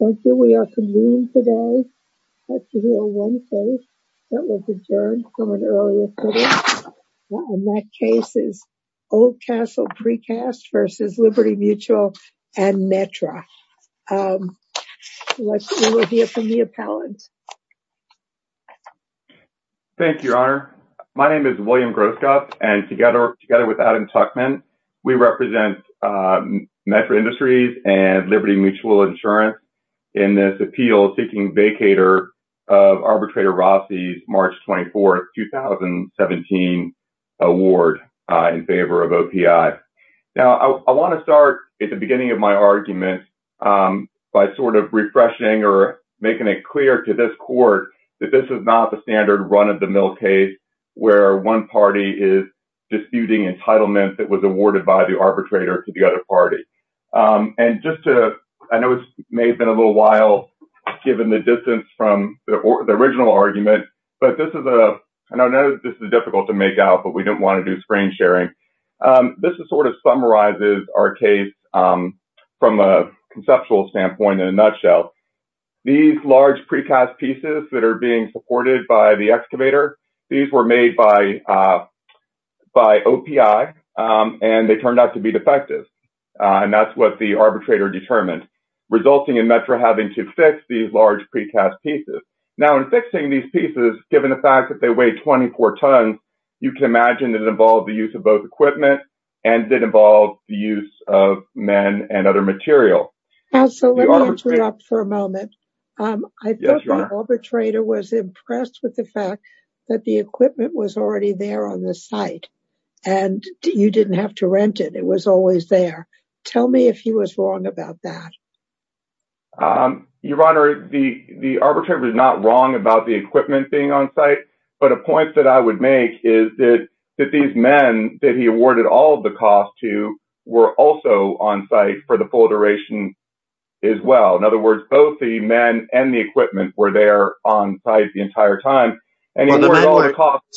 Thank you, Your Honor. My name is William Groskopf, and together with Adam Tuchman, we represent Metro Industries and Liberty Mutual Insurance in this appeal seeking vacator of Arbitrator Rossi's March 24, 2017 award in favor of OPI. Now, I want to start at the beginning of my argument by sort of refreshing or making it clear to this court that this is not the standard run-of-the-mill case where one party is disputing entitlement that was awarded by the arbitrator to the other party. And just to – I know it may have been a little while given the distance from the original argument, but this is a – I know this is difficult to make out, but we didn't want to do screen sharing. This sort of summarizes our case from a conceptual standpoint in a nutshell. These large precast pieces that are being supported by the excavator, these were made by OPI, and they turned out to be defective. And that's what the arbitrator determined, resulting in Metro having to fix these large precast pieces. Now, in fixing these pieces, given the fact that they weigh 24 tons, you can imagine it involved the use of both equipment and it involved the use of men and other material. So let me interrupt for a moment. Yes, Your Honor. I thought the arbitrator was impressed with the fact that the equipment was already there on the site and you didn't have to rent it. It was always there. Tell me if he was wrong about that. Your Honor, the arbitrator was not wrong about the equipment being on site, but a point that I would make is that these men that he awarded all of the costs to were also on site for the full duration as well. In other words, both the men and the equipment were there on site the entire time. Excuse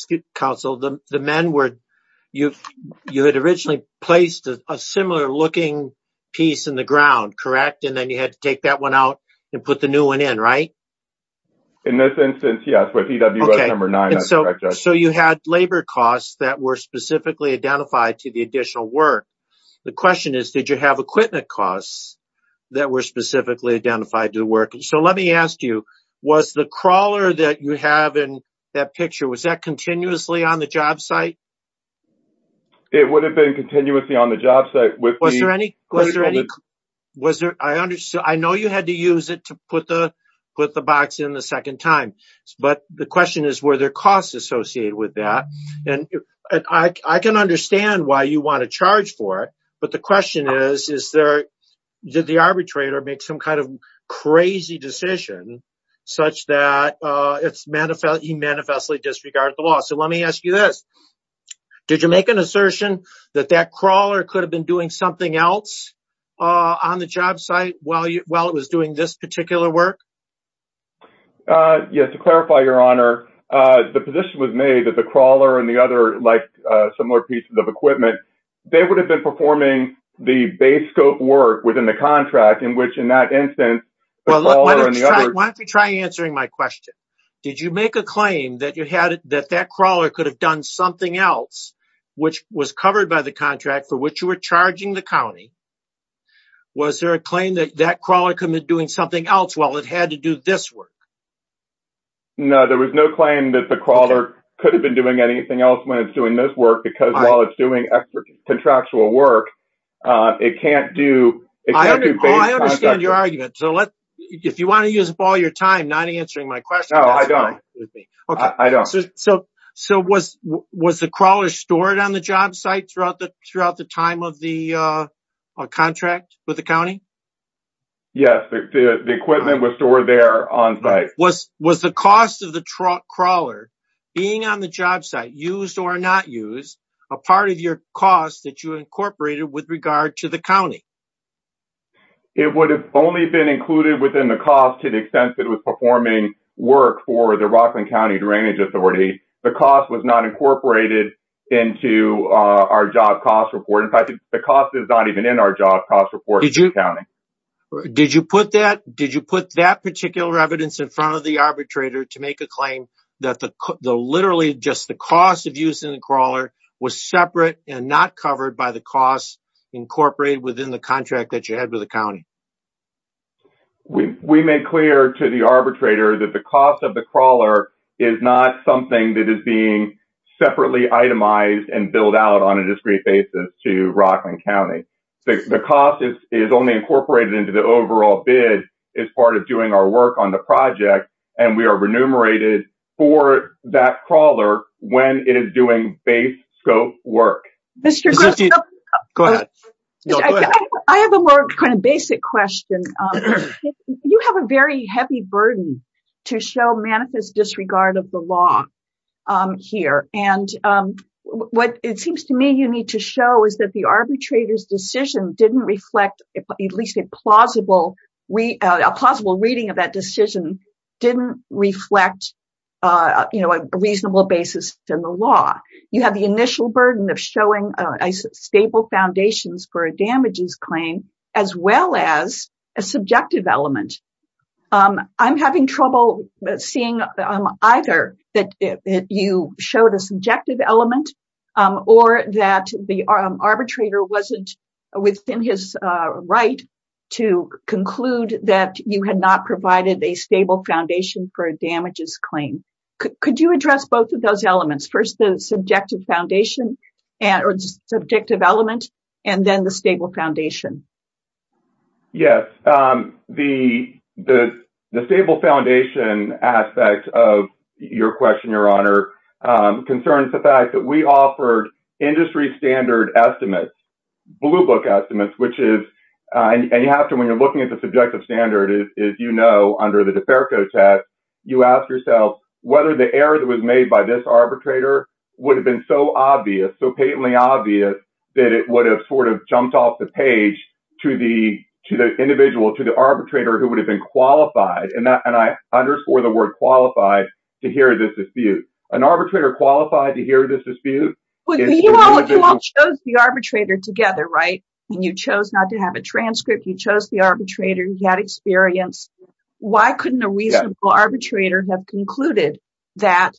me, counsel. The men were, you had originally placed a similar looking piece in the ground, correct? And then you had to take that one out and put the new one in, right? In this instance, yes, with EWS number 9. So you had labor costs that were specifically identified to the additional work. The question is, did you have equipment costs that were specifically identified to the work? So let me ask you, was the crawler that you have in that picture, was that continuously on the job site? It would have been continuously on the job site. Was there any? I know you had to use it to put the box in the second time, but the question is, were there costs associated with that? I can understand why you want to charge for it, but the question is, did the arbitrator make some kind of crazy decision such that he manifestly disregarded the law? So let me ask you this. Did you make an assertion that that crawler could have been doing something else on the job site while it was doing this particular work? Yes, to clarify, Your Honor, the position was made that the crawler and the other, like, similar pieces of equipment, they would have been performing the base scope work within the contract in which, in that instance, the crawler and the other... Why don't you try answering my question? Did you make a claim that that crawler could have done something else, which was covered by the contract for which you were charging the county? Was there a claim that that crawler could have been doing something else while it had to do this work? No, there was no claim that the crawler could have been doing anything else when it's doing this work, because while it's doing contractual work, it can't do... I understand your argument. So if you want to use up all your time not answering my question... No, I don't. Okay, so was the crawler stored on the job site throughout the time of the contract with the county? Yes, the equipment was stored there on site. Was the cost of the crawler being on the job site, used or not used, a part of your cost that you incorporated with regard to the county? It would have only been included within the cost to the extent that it was performing work for the Rockland County Drainage Authority. The cost was not incorporated into our job cost report. In fact, the cost is not even in our job cost report to the county. Did you put that particular evidence in front of the arbitrator to make a claim that literally just the cost of using the crawler was separate and not covered by the cost incorporated within the contract that you had with the county? We made clear to the arbitrator that the cost of the crawler is not something that is being separately itemized and billed out on a discrete basis to Rockland County. The cost is only incorporated into the overall bid as part of doing our work on the project. And we are remunerated for that crawler when it is doing base scope work. I have a more kind of basic question. You have a very heavy burden to show manifest disregard of the law here. And what it seems to me you need to show is that the arbitrator's decision didn't reflect, at least a plausible reading of that decision, didn't reflect a reasonable basis in the law. You have the initial burden of showing a stable foundations for a damages claim as well as a subjective element. I'm having trouble seeing either that you showed a subjective element or that the arbitrator wasn't within his right to conclude that you had not provided a stable foundation for a damages claim. Could you address both of those elements? First, the subjective foundation or the subjective element and then the stable foundation? Yes. The stable foundation aspect of your question, Your Honor, concerns the fact that we offered industry standard estimates, blue book estimates, which is and you have to when you're looking at the subjective standard, as you know, under the DeFerco test, you ask yourself whether the error that was made by this arbitrator would have been so obvious, so patently obvious that it would have sort of jumped off the page to the individual, to the arbitrator who would have been qualified. And I underscore the word qualified to hear this dispute. An arbitrator qualified to hear this dispute? You all chose the arbitrator together, right? And you chose not to have a transcript. You chose the arbitrator. He had experience. Why couldn't a reasonable arbitrator have concluded that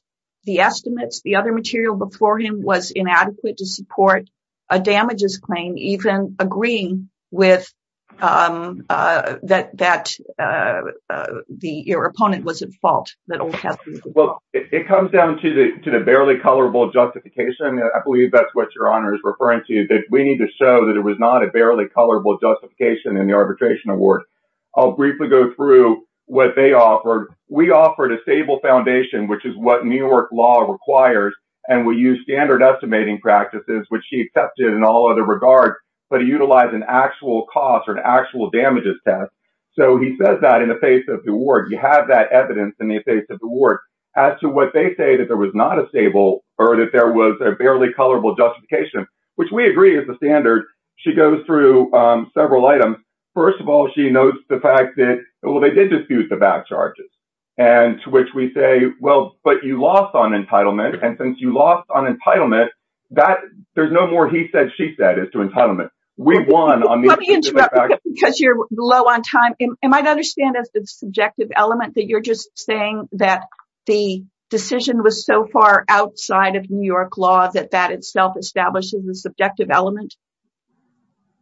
the estimates, the other material before him was inadequate to support a damages claim, even agreeing with that your opponent was at fault? Well, it comes down to the barely colorable justification. I believe that's what Your Honor is referring to, that we need to show that it was not a barely colorable justification in the arbitration award. I'll briefly go through what they offered. We offered a stable foundation, which is what New York law requires, and we used standard estimating practices, which he accepted in all other regards, but he utilized an actual cost or an actual damages test. So he says that in the face of the award. You have that evidence in the face of the award. As to what they say, that there was not a stable or that there was a barely colorable justification, which we agree is the standard. She goes through several items. First of all, she notes the fact that, well, they did dispute the back charges and to which we say, well, but you lost on entitlement. And since you lost on entitlement, that there's no more. He said she said is to entitlement. We've won on because you're low on time. And I understand that's the subjective element that you're just saying that the decision was so far outside of New York law that that itself establishes the subjective element.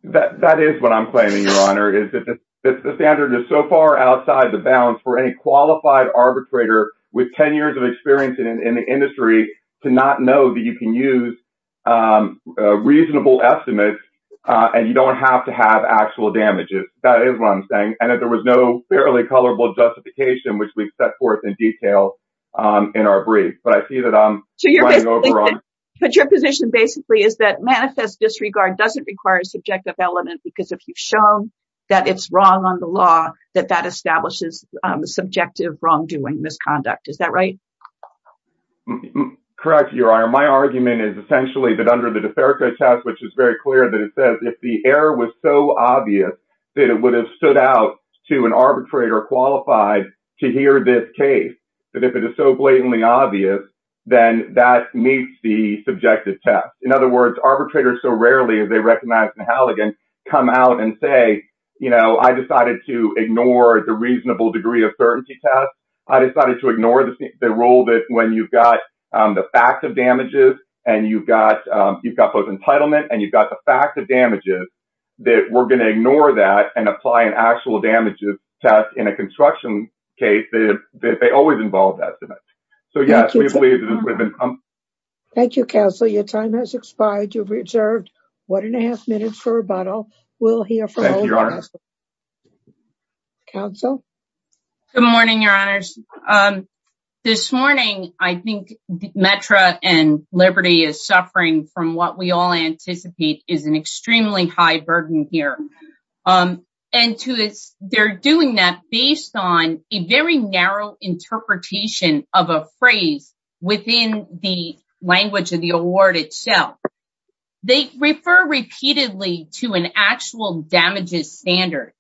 That is what I'm claiming, Your Honor, is that the standard is so far outside the bounds for any qualified arbitrator with 10 years of experience in the industry to not know that you can use reasonable estimates and you don't have to have actual damages. That is what I'm saying. And if there was no fairly colorable justification, which we set forth in detail in our brief. But your position basically is that manifest disregard doesn't require subjective element, because if you've shown that it's wrong on the law, that that establishes the subjective wrongdoing misconduct. Is that right? Correct. Your honor, my argument is essentially that under the test, which is very clear that it says if the error was so obvious that it would have stood out to an arbitrator qualified to hear this case. But if it is so blatantly obvious, then that meets the subjective test. In other words, arbitrators so rarely, as they recognize the Halligan come out and say, I decided to ignore the reasonable degree of certainty test. I decided to ignore the role that when you've got the fact of damages and you've got you've got both entitlement and you've got the fact of damages that we're going to ignore that and apply an actual damages test in a construction case. They always involve that. So, yes, we believe that. Thank you, counsel. Your time has expired. You've reserved 1.5 minutes for rebuttal. We'll hear from. Council. Good morning, your honors this morning, I think Metro and Liberty is suffering from what we all anticipate is an extremely high burden here. And to this, they're doing that based on a very narrow interpretation of a phrase within the language of the award itself. They refer repeatedly to an actual damages standard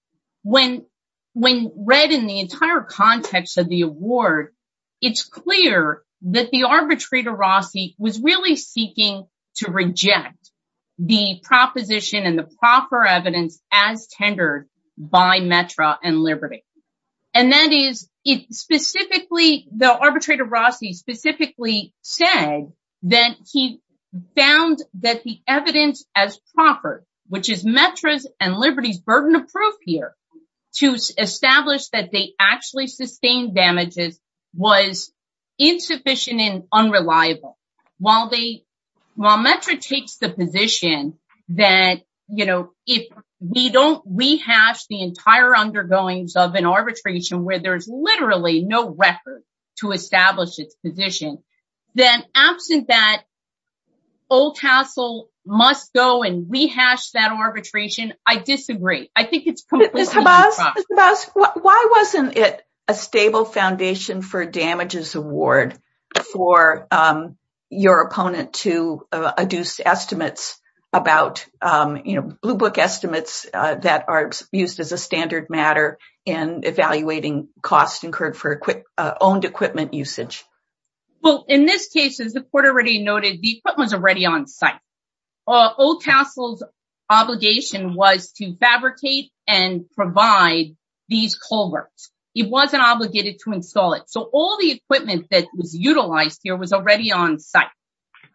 when when read in the entire context of the award. It's clear that the arbitrator Rossi was really seeking to reject the proposition and the proper evidence as tendered by Metro and Liberty. And that is it specifically the arbitrator Rossi specifically said that he found that the evidence as proper, which is Metro's and Liberty's burden of proof here to establish that they actually sustained damages was insufficient and unreliable. While they while Metro takes the position that, you know, if we don't rehash the entire undergoings of an arbitration where there's literally no record to establish its position, then absent that. Old castle must go and rehash that arbitration. I disagree. I think it's completely. Why wasn't it a stable foundation for damages award for your opponent to adduce estimates about, you know, blue book estimates that are used as a standard matter in evaluating costs incurred for quick owned equipment usage? Well, in this case, as the court already noted, the equipment was already on site. Old Castle's obligation was to fabricate and provide these culverts. It wasn't obligated to install it. So all the equipment that was utilized here was already on site.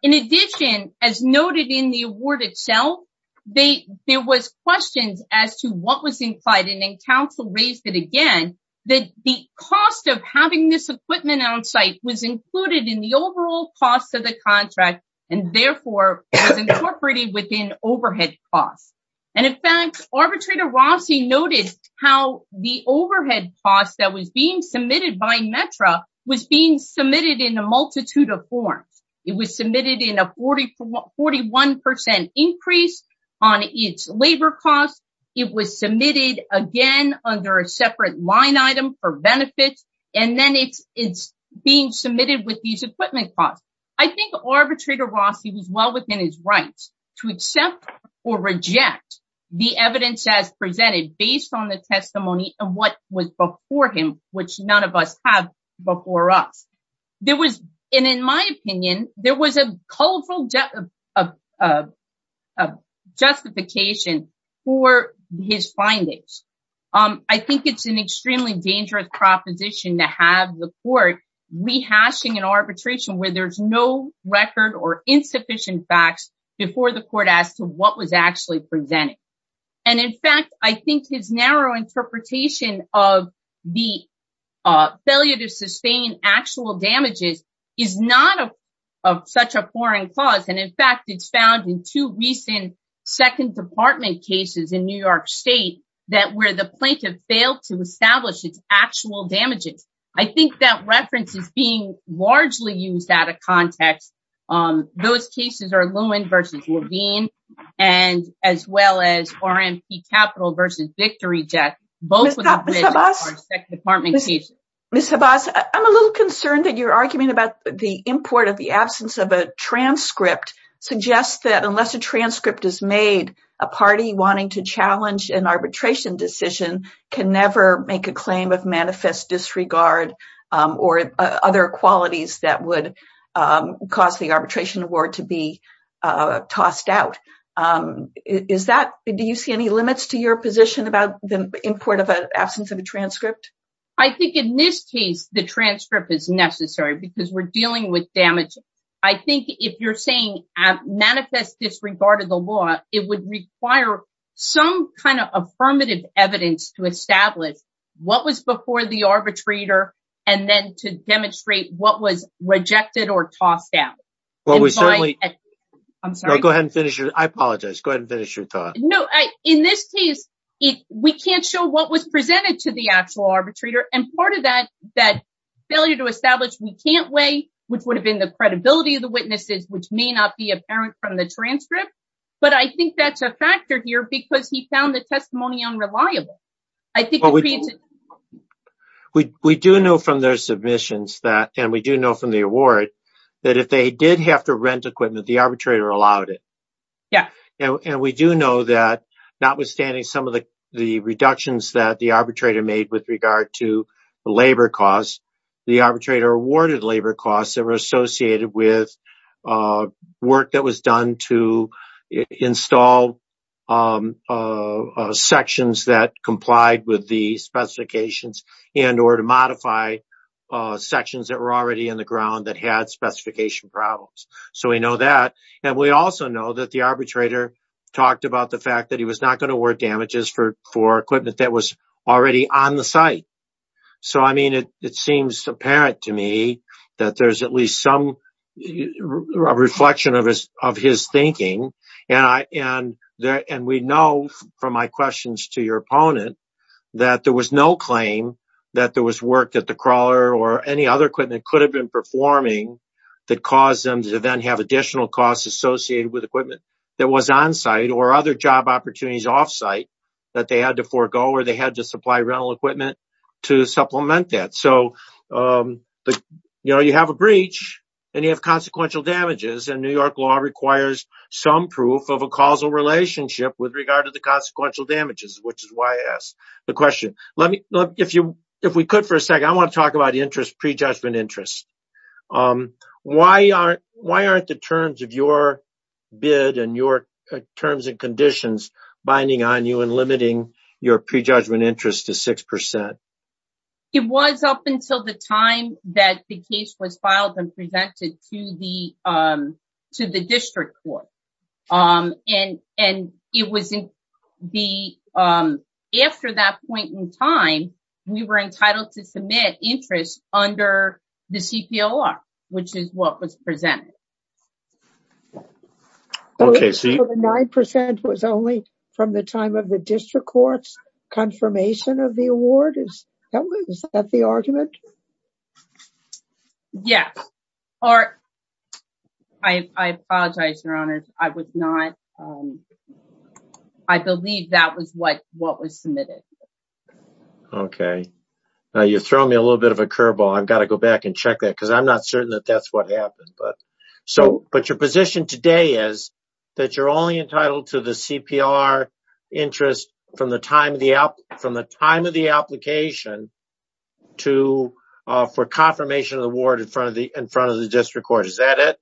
In addition, as noted in the award itself, they, there was questions as to what was implied in a council raised it again, that the cost of having this equipment on site was included in the overall cost of the contract. And therefore, it was incorporated within overhead costs. And in fact, Arbitrator Rossi noted how the overhead costs that was being submitted by METRA was being submitted in a multitude of forms. It was submitted in a 41% increase on its labor costs. It was submitted again under a separate line item for benefits, and then it's being submitted with these equipment costs. I think Arbitrator Rossi was well within his rights to accept or reject the evidence as presented based on the testimony and what was before him, which none of us have before us. There was, and in my opinion, there was a colorful justification for his findings. I think it's an extremely dangerous proposition to have the court rehashing an arbitration where there's no record or insufficient facts before the court as to what was actually presented. And in fact, I think his narrow interpretation of the failure to sustain actual damages is not of such a foreign clause. And in fact, it's found in two recent Second Department cases in New York State that where the plaintiff failed to establish its actual damages. I think that reference is being largely used out of context. Those cases are Lewin versus Levine, and as well as RMP Capital versus VictoryJet, both of which are Second Department cases. Ms. Havas, I'm a little concerned that your argument about the import of the absence of a transcript suggests that unless a transcript is made, a party wanting to challenge an arbitration decision can never make a claim of manifest disregard or other qualities that would cause the arbitration award to be tossed out. Do you see any limits to your position about the import of an absence of a transcript? I think in this case, the transcript is necessary because we're dealing with damages. I think if you're saying manifest disregard of the law, it would require some kind of affirmative evidence to establish what was before the arbitrator and then to demonstrate what was rejected or tossed out. Well, we certainly... I'm sorry. Go ahead and finish. I apologize. Go ahead and finish your thought. No, in this case, we can't show what was presented to the actual arbitrator. And part of that failure to establish we can't weigh, which would have been the credibility of the witnesses, which may not be apparent from the transcript. But I think that's a factor here because he found the testimony unreliable. We do know from their submissions that, and we do know from the award, that if they did have to rent equipment, the arbitrator allowed it. Yeah. And we do know that notwithstanding some of the reductions that the arbitrator made with regard to labor costs, the arbitrator awarded labor costs that were associated with work that was done to install sections that complied with the specifications and or to modify sections that were already in the ground that had specification problems. So we know that. And we also know that the arbitrator talked about the fact that he was not going to award damages for equipment that was already on the site. So, I mean, it seems apparent to me that there's at least some reflection of his thinking. And we know from my questions to your opponent that there was no claim that there was work that the crawler or any other equipment could have been performing that caused them to then have additional costs associated with equipment that was on site or other job opportunities off site that they had to forego or they had to supply rental equipment to supplement that. So, you know, you have a breach and you have consequential damages. And New York law requires some proof of a causal relationship with regard to the consequential damages, which is why I asked the question. If we could for a second, I want to talk about interest, prejudgment interest. Why aren't the terms of your bid and your terms and conditions binding on you and limiting your prejudgment interest to 6 percent? It was up until the time that the case was filed and presented to the to the district court. And and it was in the after that point in time, we were entitled to submit interest under the CPLR, which is what was presented. Okay, so 9 percent was only from the time of the district court's confirmation of the award. Is that the argument? Yes, or I apologize. Your honor, I would not I believe that was what what was submitted. Okay, now you throw me a little bit of a curveball. I've got to go back and check that because I'm not certain that that's what happened. But so but your position today is that you're only entitled to the CPR interest from the time of the from the time of the application to for confirmation of the award in front of the in front of the district court. Is that it?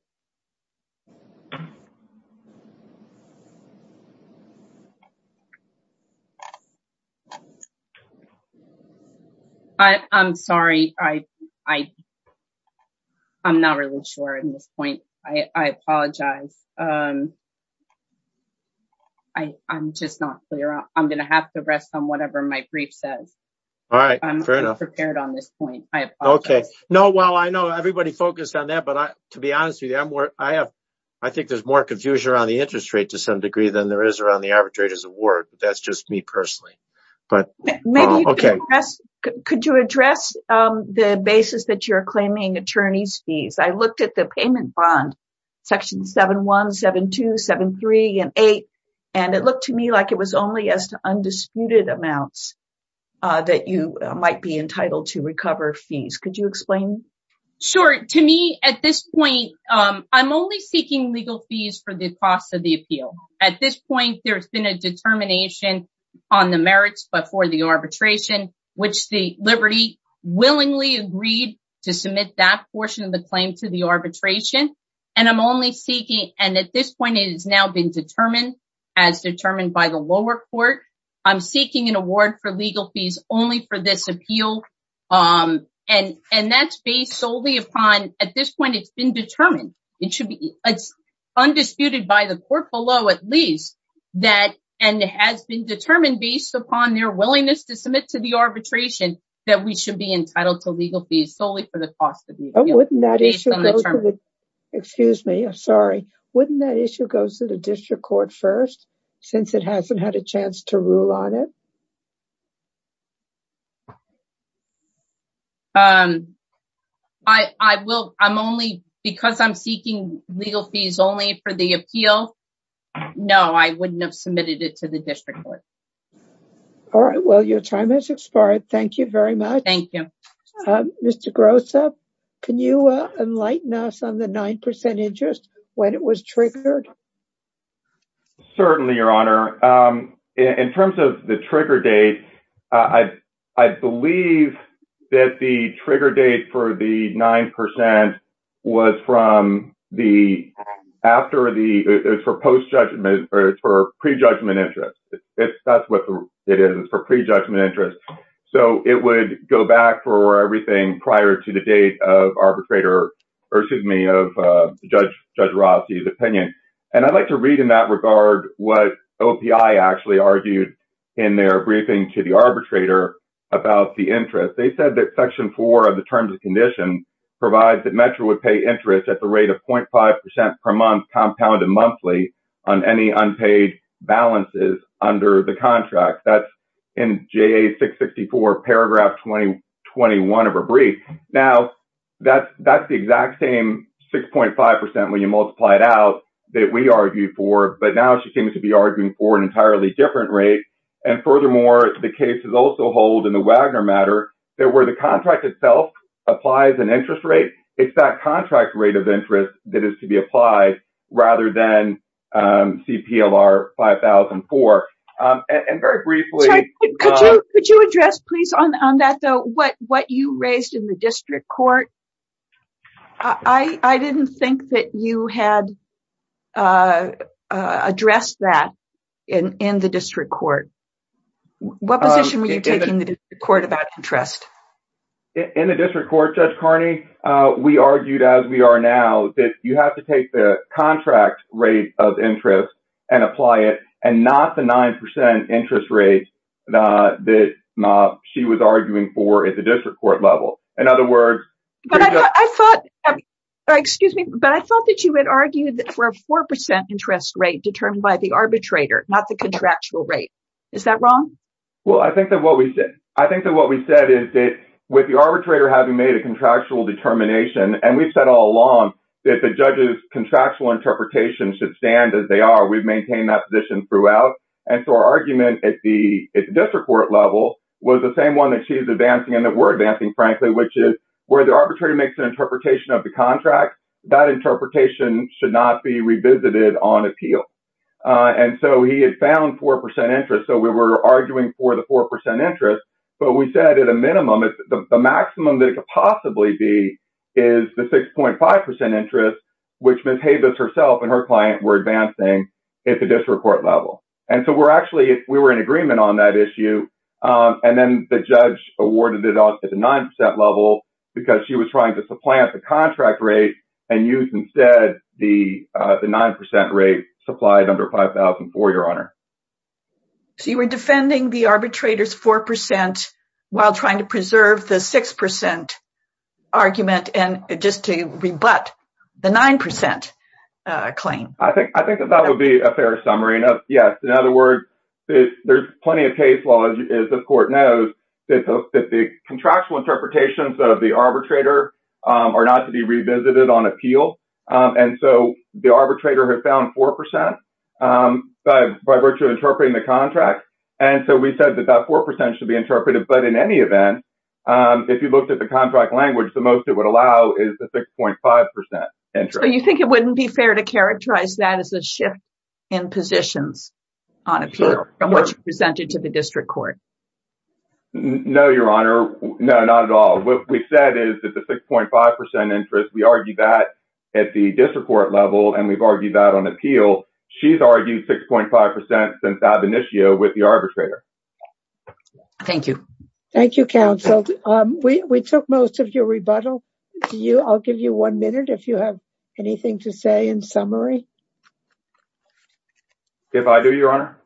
I'm sorry. I, I, I'm not really sure at this point. I apologize. I, I'm just not clear. I'm going to have to rest on whatever my brief says. All right. Fair enough. Prepared on this point. I have. Okay. No. Well, I know everybody focused on that, but I, to be honest with you, I'm where I have. I think there's more confusion around the interest rate to some degree than there is around the arbitrators award. That's just me personally. But maybe. Okay. Could you address the basis that you're claiming attorneys fees? I looked at the payment bond. Section 717273 and 8. And it looked to me like it was only as to undisputed amounts. That you might be entitled to recover fees. Could you explain? Sure. To me at this point, I'm only seeking legal fees for the cost of the appeal. At this point, there's been a determination on the merits, but for the arbitration, which the Liberty willingly agreed to submit that portion of the claim to the arbitration. And I'm only seeking. And at this point, it has now been determined as determined by the lower court. I'm seeking an award for legal fees only for this appeal. And that's based solely upon at this point. It's been determined. It should be. Undisputed by the court below, at least that. And it has been determined based upon their willingness to submit to the arbitration that we should be entitled to legal fees solely for the cost of. Excuse me. I'm sorry. Wouldn't that issue goes to the district court 1st? Since it hasn't had a chance to rule on it. I will. I'm only because I'm seeking legal fees only for the appeal. No, I wouldn't have submitted it to the district court. All right. Well, your time has expired. Thank you very much. Thank you. Mr. Gross up. Can you enlighten us on the 9% interest when it was triggered? Certainly your honor in terms of the trigger date. I believe that the trigger date for the 9% was from the after the proposed judgment for prejudgment interest. That's what it is for prejudgment interest. So, it would go back for everything prior to the date of arbitrator. Excuse me of judge Rossi's opinion. And I'd like to read in that regard what OPI actually argued in their briefing to the arbitrator about the interest. They said that section 4 of the terms and conditions provides that Metro would pay interest at the rate of 0.5% per month compounded monthly on any unpaid balances under the contract. That's in J.A. 664 paragraph 2021 of a brief. Now, that's the exact same 6.5% when you multiply it out that we argued for. But now she seems to be arguing for an entirely different rate. And furthermore, the case is also hold in the Wagner matter. There were the contract itself applies an interest rate. It's that contract rate of interest that is to be applied rather than CPLR 5004. And very briefly. Could you address please on that though? What you raised in the district court? I didn't think that you had addressed that in the district court. What position were you taking the court about interest? In the district court, Judge Carney, we argued as we are now that you have to take the contract rate of interest and apply it. And not the 9% interest rate that she was arguing for at the district court level. In other words, I thought, excuse me, but I thought that you had argued for a 4% interest rate determined by the arbitrator, not the contractual rate. Is that wrong? Well, I think that what we did, I think that what we said is that with the arbitrator having made a contractual determination, and we've said all along that the judges contractual interpretation should stand as they are. We've maintained that position throughout. And so our argument at the district court level was the same one that she's advancing and that we're advancing, frankly, which is where the arbitrator makes an interpretation of the contract. That interpretation should not be revisited on appeal. And so he had found 4% interest. So we were arguing for the 4% interest. But we said at a minimum, the maximum that could possibly be is the 6.5% interest, which Ms. Habeas herself and her client were advancing at the district court level. And so we're actually, we were in agreement on that issue. And then the judge awarded it off at the 9% level because she was trying to supplant the contract rate and use instead the 9% rate supplied under 5000 for your honor. So you were defending the arbitrator's 4% while trying to preserve the 6% argument and just to rebut the 9% claim. I think that would be a fair summary. Yes. In other words, there's plenty of case law, as the court knows, that the contractual interpretations of the arbitrator are not to be revisited on appeal. And so the arbitrator had found 4% by virtue of interpreting the contract. And so we said that that 4% should be interpreted. But in any event, if you looked at the contract language, the most it would allow is the 6.5% interest. So you think it wouldn't be fair to characterize that as a shift in positions on appeal from what you presented to the district court? No, Your Honor. No, not at all. What we said is that the 6.5% interest, we argue that at the district court level, and we've argued that on appeal. She's argued 6.5% since ab initio with the arbitrator. Thank you. Thank you, counsel. We took most of your rebuttal. I'll give you one minute if you have anything to say in summary. If I do, Your Honor.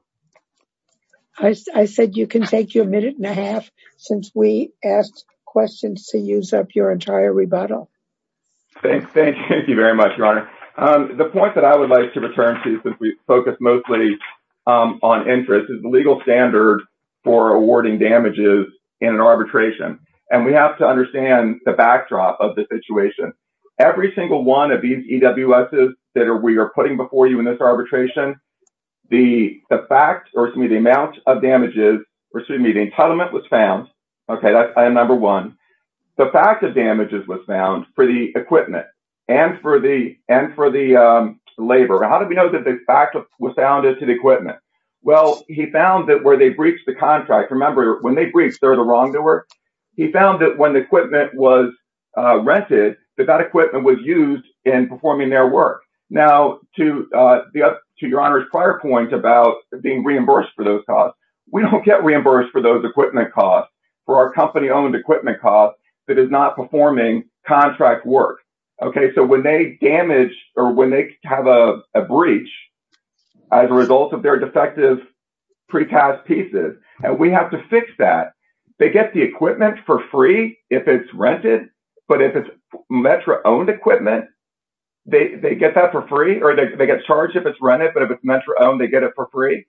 I said you can take your minute and a half since we asked questions to use up your entire rebuttal. Thank you. Thank you very much, Your Honor. The point that I would like to return to since we focus mostly on interest is the legal standard for awarding damages in an arbitration. And we have to understand the backdrop of the situation. Every single one of these EWSs that we are putting before you in this arbitration, the amount of damages, or excuse me, the entitlement was found. Okay, that's item number one. The fact of damages was found for the equipment and for the labor. How do we know that the fact was founded to the equipment? Well, he found that where they breached the contract. Remember, when they breached, they're the wrongdoer. He found that when the equipment was rented, that that equipment was used in performing their work. Now, to Your Honor's prior point about being reimbursed for those costs, we don't get reimbursed for those equipment costs for our company-owned equipment costs that is not performing contract work. Okay, so when they damage or when they have a breach as a result of their defective pretest pieces, and we have to fix that. They get the equipment for free if it's rented. But if it's METRA-owned equipment, they get that for free or they get charged if it's rented. But if it's METRA-owned, they get it for free.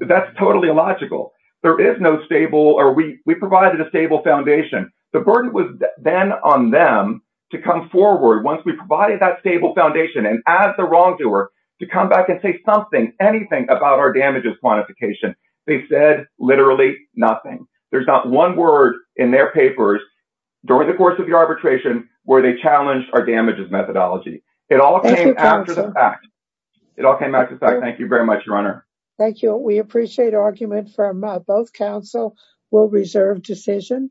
That's totally illogical. There is no stable or we provided a stable foundation. The burden was then on them to come forward once we provided that stable foundation and as the wrongdoer to come back and say something, anything about our damages quantification. They said literally nothing. There's not one word in their papers during the course of the arbitration where they challenged our damages methodology. It all came after the fact. It all came after the fact. Thank you very much, Your Honor. Thank you. We appreciate argument from both counsel. We'll reserve decision.